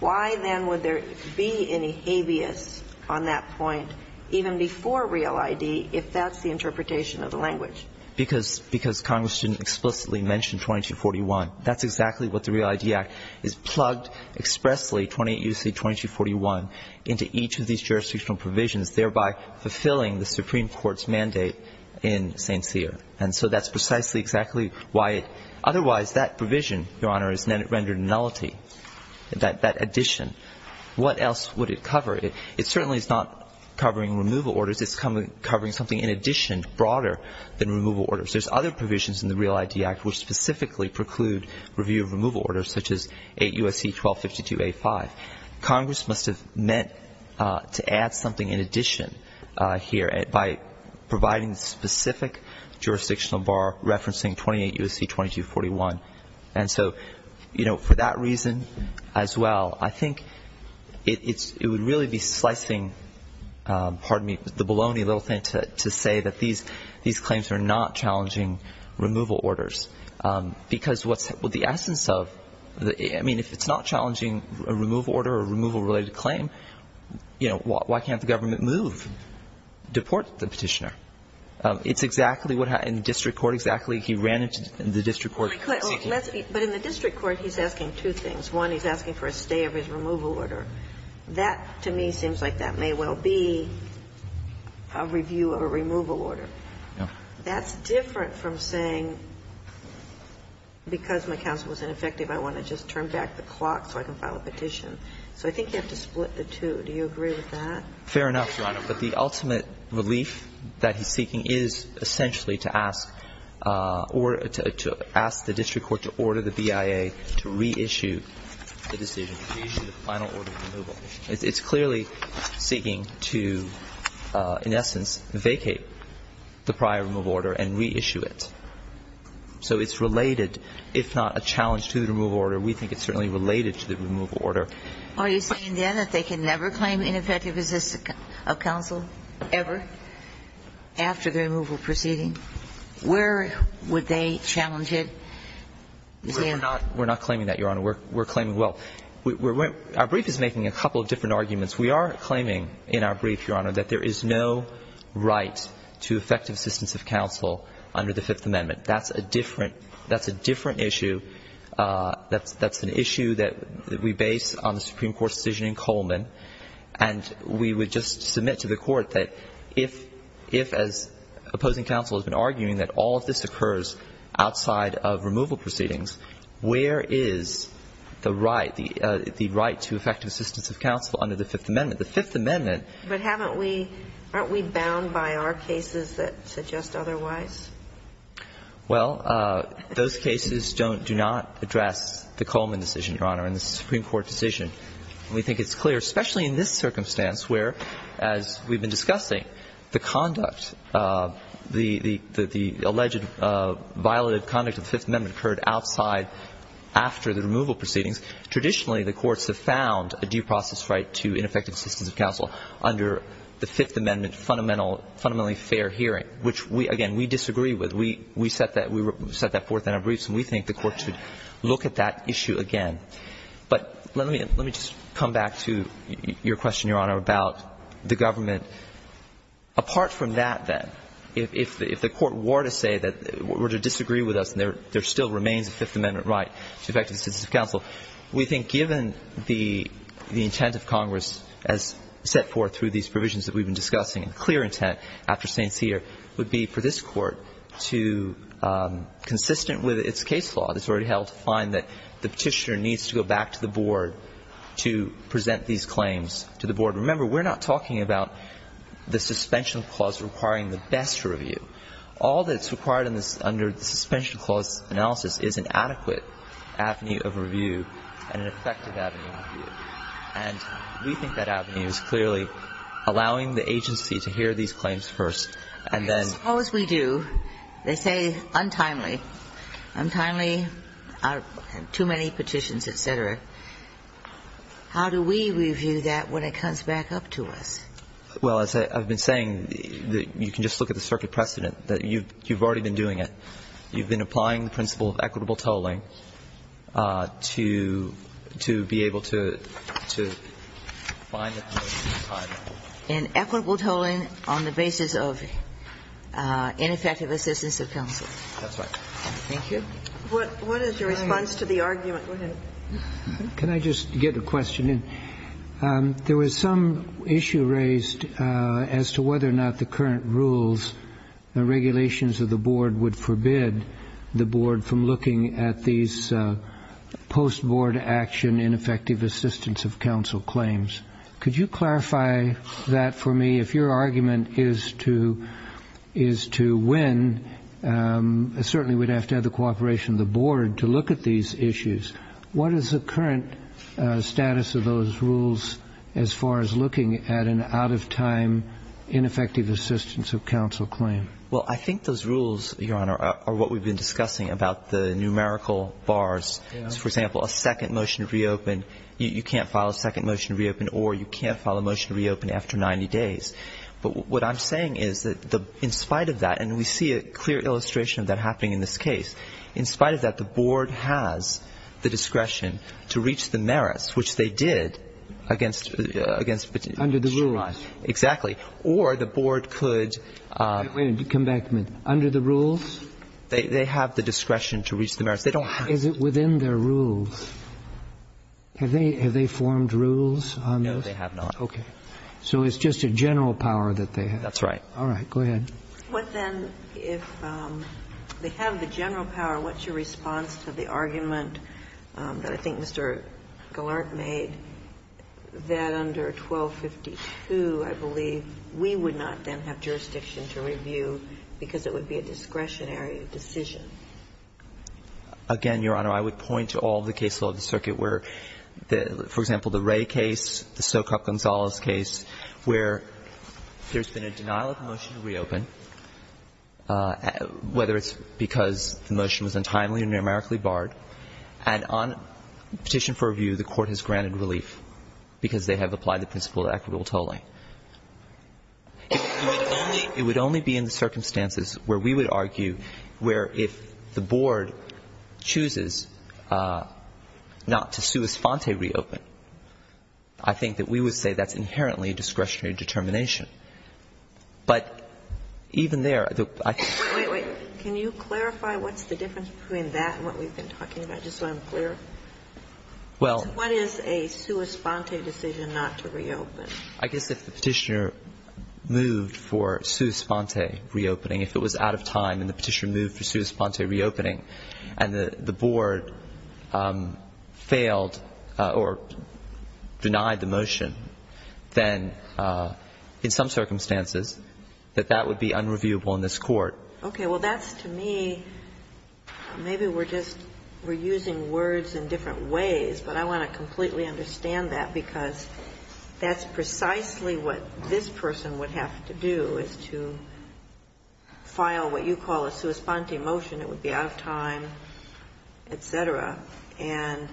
why then would there be any habeas on that point even before Real ID if that's the interpretation of the language? Because Congress didn't explicitly mention 2241. That's exactly what the Real ID Act is. Plugged expressly 28 U.C. 2241 into each of these jurisdictional provisions, thereby fulfilling the Supreme Court's mandate in St. Cyr. And so that's precisely exactly why it ---- otherwise that provision, Your Honor, is rendered nullity, that addition. What else would it cover? It certainly is not covering removal orders. Of course, it's covering something in addition, broader than removal orders. There's other provisions in the Real ID Act which specifically preclude review of removal orders, such as 8 U.S.C. 1252A-5. Congress must have meant to add something in addition here by providing the specific jurisdictional bar referencing 28 U.S.C. 2241. And so, you know, for that reason as well, I think it would really be slicing, pardon me, the baloney a little thing to say that these claims are not challenging removal orders. Because what's the essence of the ---- I mean, if it's not challenging a removal order or a removal-related claim, you know, why can't the government move, deport the Petitioner? It's exactly what happened in the district court, exactly. He ran into the district court seeking. But in the district court, he's asking two things. One, he's asking for a stay of his removal order. That, to me, seems like that may well be a review of a removal order. That's different from saying, because my counsel was ineffective, I want to just turn back the clock so I can file a petition. So I think you have to split the two. Do you agree with that? Fair enough, Your Honor. But the ultimate relief that he's seeking is essentially to ask the district court to order the BIA to reissue the decision, to issue the final order. It's clearly seeking to, in essence, vacate the prior removal order and reissue it. So it's related, if not a challenge to the removal order, we think it's certainly related to the removal order. Are you saying then that they can never claim ineffective assistance of counsel ever after the removal proceeding? Where would they challenge it? We're not claiming that, Your Honor. We're claiming well. Our brief is making a couple of different arguments. We are claiming in our brief, Your Honor, that there is no right to effective assistance of counsel under the Fifth Amendment. That's a different issue. That's an issue that we base on the Supreme Court's decision in Coleman. And we would just submit to the court that if, as opposing counsel has been arguing, that all of this occurs outside of removal proceedings, where is the right, the right to effective assistance of counsel under the Fifth Amendment? The Fifth Amendment. But haven't we – aren't we bound by our cases that suggest otherwise? Well, those cases don't – do not address the Coleman decision, Your Honor, and the Supreme Court decision. And we think it's clear, especially in this circumstance, where, as we've been discussing, the conduct, the alleged violative conduct of the Fifth Amendment occurred outside after the removal proceedings. Traditionally, the courts have found a due process right to ineffective assistance of counsel under the Fifth Amendment fundamentally fair hearing, which, again, we disagree with. We set that forth in our briefs, and we think the court should look at that issue again. But let me just come back to your question, Your Honor, about the government. Apart from that, then, if the court were to say that – were to disagree with us, and there still remains a Fifth Amendment right to effective assistance of counsel, we think given the intent of Congress as set forth through these provisions that we've been discussing, a clear intent after St. Cyr would be for this Court to, consistent with its case law that's already held, find that the Petitioner needs to go back to the board to present these claims to the board. Remember, we're not talking about the suspension clause requiring the best review. All that's required under the suspension clause analysis is an adequate avenue of review and an effective avenue of review. And we think that avenue is clearly allowing the agency to hear these claims first and then – Suppose we do. They say untimely. Untimely, too many petitions, et cetera. How do we review that when it comes back up to us? Well, as I've been saying, you can just look at the circuit precedent, that you've already been doing it. You've been applying the principle of equitable tolling to be able to find that motive in time. And equitable tolling on the basis of ineffective assistance of counsel. That's right. Thank you. What is your response to the argument? Go ahead. Can I just get a question in? There was some issue raised as to whether or not the current rules and regulations of the board would forbid the board from looking at these post-board action ineffective assistance of counsel claims. Could you clarify that for me? If your argument is to win, certainly we'd have to have the cooperation of the board to look at these issues. What is the current status of those rules as far as looking at an out-of-time ineffective assistance of counsel claim? Well, I think those rules, Your Honor, are what we've been discussing about the numerical bars. For example, a second motion to reopen, you can't file a second motion to reopen or you can't file a motion to reopen after 90 days. But what I'm saying is that in spite of that, and we see a clear illustration of that happening in this case, in spite of that, the board has the discretion to reach the merits, which they did against the petitioner. Under the rules. Exactly. Or the board could... Wait a minute. Come back a minute. Under the rules? They have the discretion to reach the merits. They don't have... Is it within their rules? Have they formed rules on those? No, they have not. Okay. So it's just a general power that they have. That's right. All right. Go ahead. What then, if they have the general power, what's your response to the argument that I think Mr. Gallant made that under 1252, I believe, we would not then have jurisdiction to review because it would be a discretionary decision? Again, Your Honor, I would point to all the cases of the circuit where, for example, the Ray case, the Sokap Gonzalez case, where there's been a denial of the motion to reopen, whether it's because the motion was untimely or numerically barred, and on petition for review, the Court has granted relief because they have applied the principle of equitable tolling. It would only be in the circumstances where we would argue where if the board chooses not to sua sponte reopen, I think that we would say that's inherently a discretionary determination. But even there, I think the question is... Wait, wait. Can you clarify what's the difference between that and what we've been talking about, just so I'm clear? Well... What is a sua sponte decision not to reopen? I guess if the Petitioner moved for sua sponte reopening, if it was out of time and the Petitioner moved for sua sponte reopening and the board failed or denied the motion, then in some circumstances that that would be unreviewable in this court. Okay. Well, that's, to me, maybe we're just using words in different ways, but I want to completely understand that because that's precisely what this person would have to do, is to file what you call a sua sponte motion. It would be out of time, et cetera. And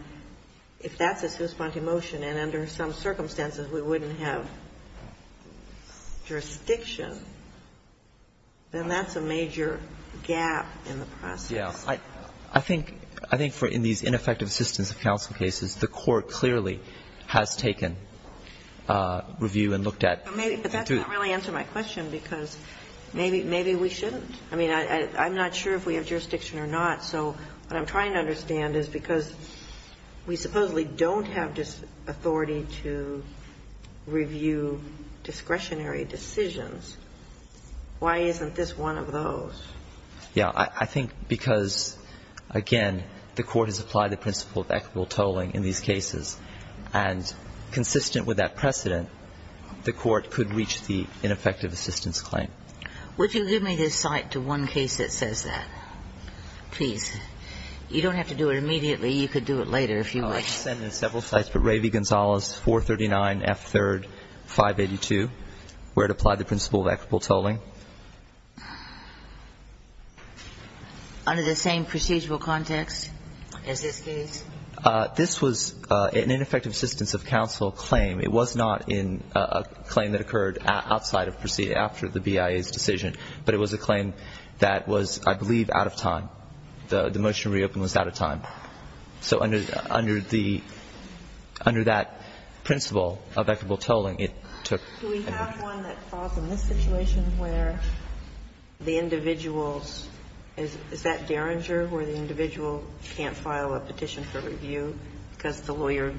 if that's a sua sponte motion and under some circumstances we wouldn't have jurisdiction, then that's a major gap in the process. Yeah. I think for in these ineffective assistance of counsel cases, the Court clearly has taken review and looked at... But that doesn't really answer my question because maybe we shouldn't. I mean, I'm not sure if we have jurisdiction or not. So what I'm trying to understand is because we supposedly don't have this authority to review discretionary decisions, why isn't this one of those? Yeah. I think because, again, the Court has applied the principle of equitable tolling in these cases, and consistent with that precedent, the Court could reach the ineffective assistance claim. Would you give me this site to one case that says that, please? You don't have to do it immediately. You could do it later if you wish. Oh, I've sent in several sites, but Ravy Gonzales, 439F3, 582, where it applied the principle of equitable tolling. Under the same procedural context as this case? This was an ineffective assistance of counsel claim. It was not in a claim that occurred outside of proceeding after the BIA's decision, but it was a claim that was, I believe, out of time. The motion to reopen was out of time. So under the under that principle of equitable tolling, it took... Do we have one that falls in this situation where the individual's, is that Derringer where the individual can't file a petition for review because the lawyer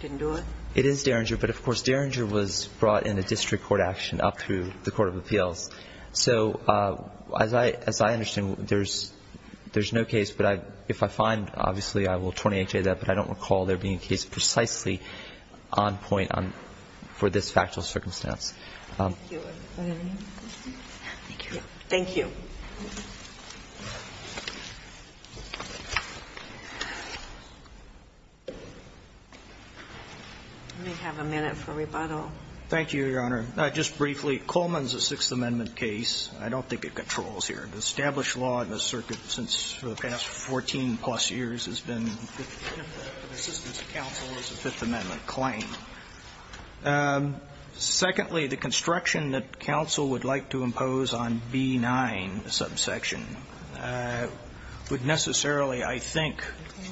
didn't do it? It is Derringer. But, of course, Derringer was brought in a district court action up through the court of appeals. So as I understand, there's no case, but if I find, obviously, I will torture that, but I don't recall there being a case precisely on point for this factual circumstance. Thank you. Let me have a minute for rebuttal. Thank you, Your Honor. Just briefly, Coleman's a Sixth Amendment case. I don't think it controls here. Established law in this circuit since the past 14-plus years has been that assistance of counsel is a Fifth Amendment claim. Secondly, the construction that counsel would like to impose on B-9 subsection would necessarily, I think,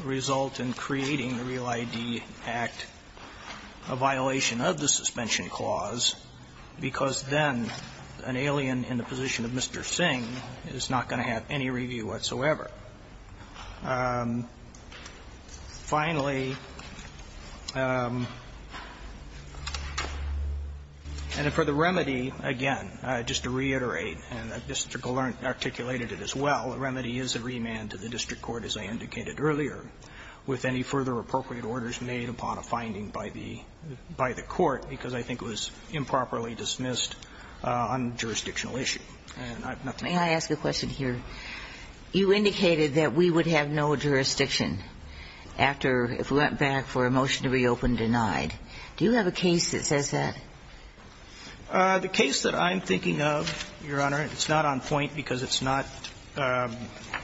result in creating the Real ID Act, a violation of the suspension clause, because then an alien in the position of Mr. Singh is not going to have any review whatsoever. Finally, and for the remedy, again, just to reiterate, and Mr. Gallant articulated it as well, the remedy is a remand to the district court, as I indicated earlier, with any further appropriate orders made upon a finding by the court, because I think it was improperly dismissed on jurisdictional issue. May I ask a question here? You indicated that we would have no jurisdiction after, if we went back for a motion to reopen, denied. Do you have a case that says that? The case that I'm thinking of, Your Honor, it's not on point because it's not, but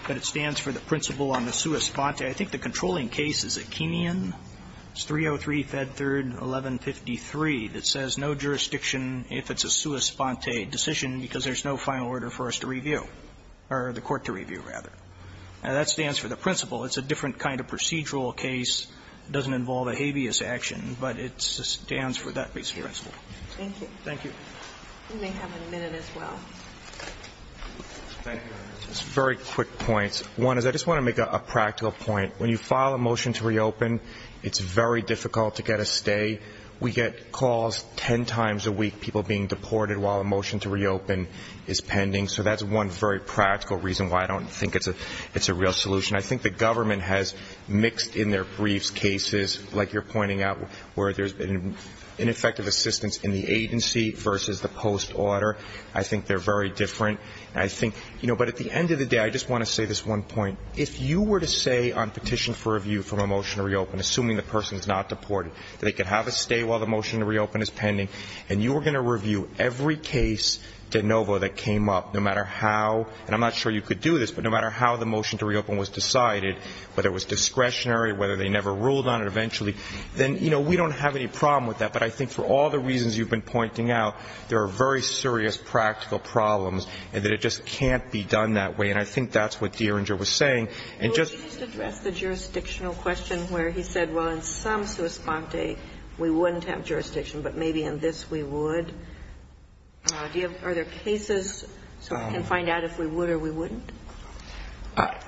it stands for the principle on the sua sponte. I think the controlling case is a Kenyan. It's 303 Fed Third 1153 that says no jurisdiction if it's a sua sponte decision because there's no final order for us to review, or the court to review, rather. Now, that stands for the principle. It's a different kind of procedural case. It doesn't involve a habeas action, but it stands for that basic principle. Thank you. Thank you. You may have a minute as well. Thank you, Your Honor. Just very quick points. One is I just want to make a practical point. When you file a motion to reopen, it's very difficult to get a stay. We get calls 10 times a week, people being deported while a motion to reopen is pending. So that's one very practical reason why I don't think it's a real solution. I think the government has mixed in their briefs cases, like you're pointing out, where there's been ineffective assistance in the agency versus the post order. I think they're very different. I think, you know, but at the end of the day, I just want to say this one point. If you were to say on petition for review from a motion to reopen, assuming the person is not deported, they could have a stay while the motion to reopen is pending, and you were going to review every case de novo that came up, no matter how, and I'm not sure you could do this, but no matter how the motion to reopen was decided, whether it was discretionary, whether they never ruled on it eventually, then, you know, we don't have any problem with that. But I think for all the reasons you've been pointing out, there are very serious practical problems and that it just can't be done that way. And I think that's what Dieringer was saying. And just to address the jurisdictional question where he said, well, in some sua sponte, we wouldn't have jurisdiction, but maybe in this we would, are there cases so we can find out if we would or we wouldn't?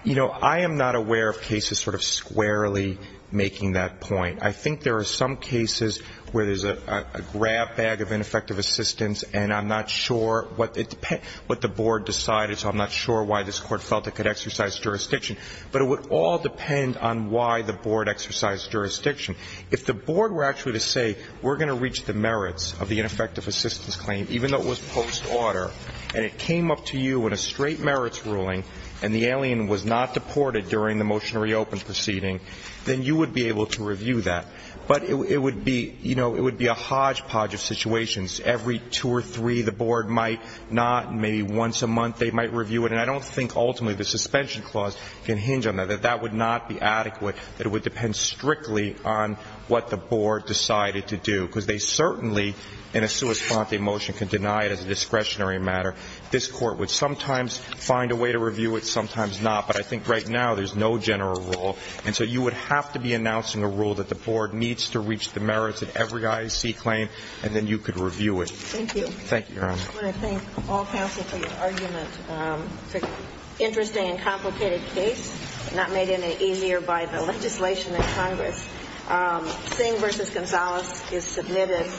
You know, I am not aware of cases sort of squarely making that point. I think there are some cases where there's a grab bag of ineffective assistance and I'm not sure what the board decided, so I'm not sure why this Court felt it could exercise jurisdiction, but it would all depend on why the board exercised jurisdiction. If the board were actually to say we're going to reach the merits of the ineffective assistance claim, even though it was post-order and it came up to you in a straight merits ruling and the alien was not deported during the motion to reopen proceeding, then you would be able to review that. But it would be, you know, it would be a hodgepodge of situations. Every two or three the board might not, maybe once a month they might review it. And I don't think ultimately the suspension clause can hinge on that, that that would not be adequate, that it would depend strictly on what the board decided to do. Because they certainly in a sua sponte motion can deny it as a discretionary matter. This Court would sometimes find a way to review it, sometimes not. But I think right now there's no general rule, and so you would have to be announcing a rule that the board needs to reach the merits of every IAC claim and then you could review it. Thank you. Thank you, Your Honor. I just want to thank all counsel for your argument. It's an interesting and complicated case, not made any easier by the legislation in Congress. Singh v. Gonzales is submitted.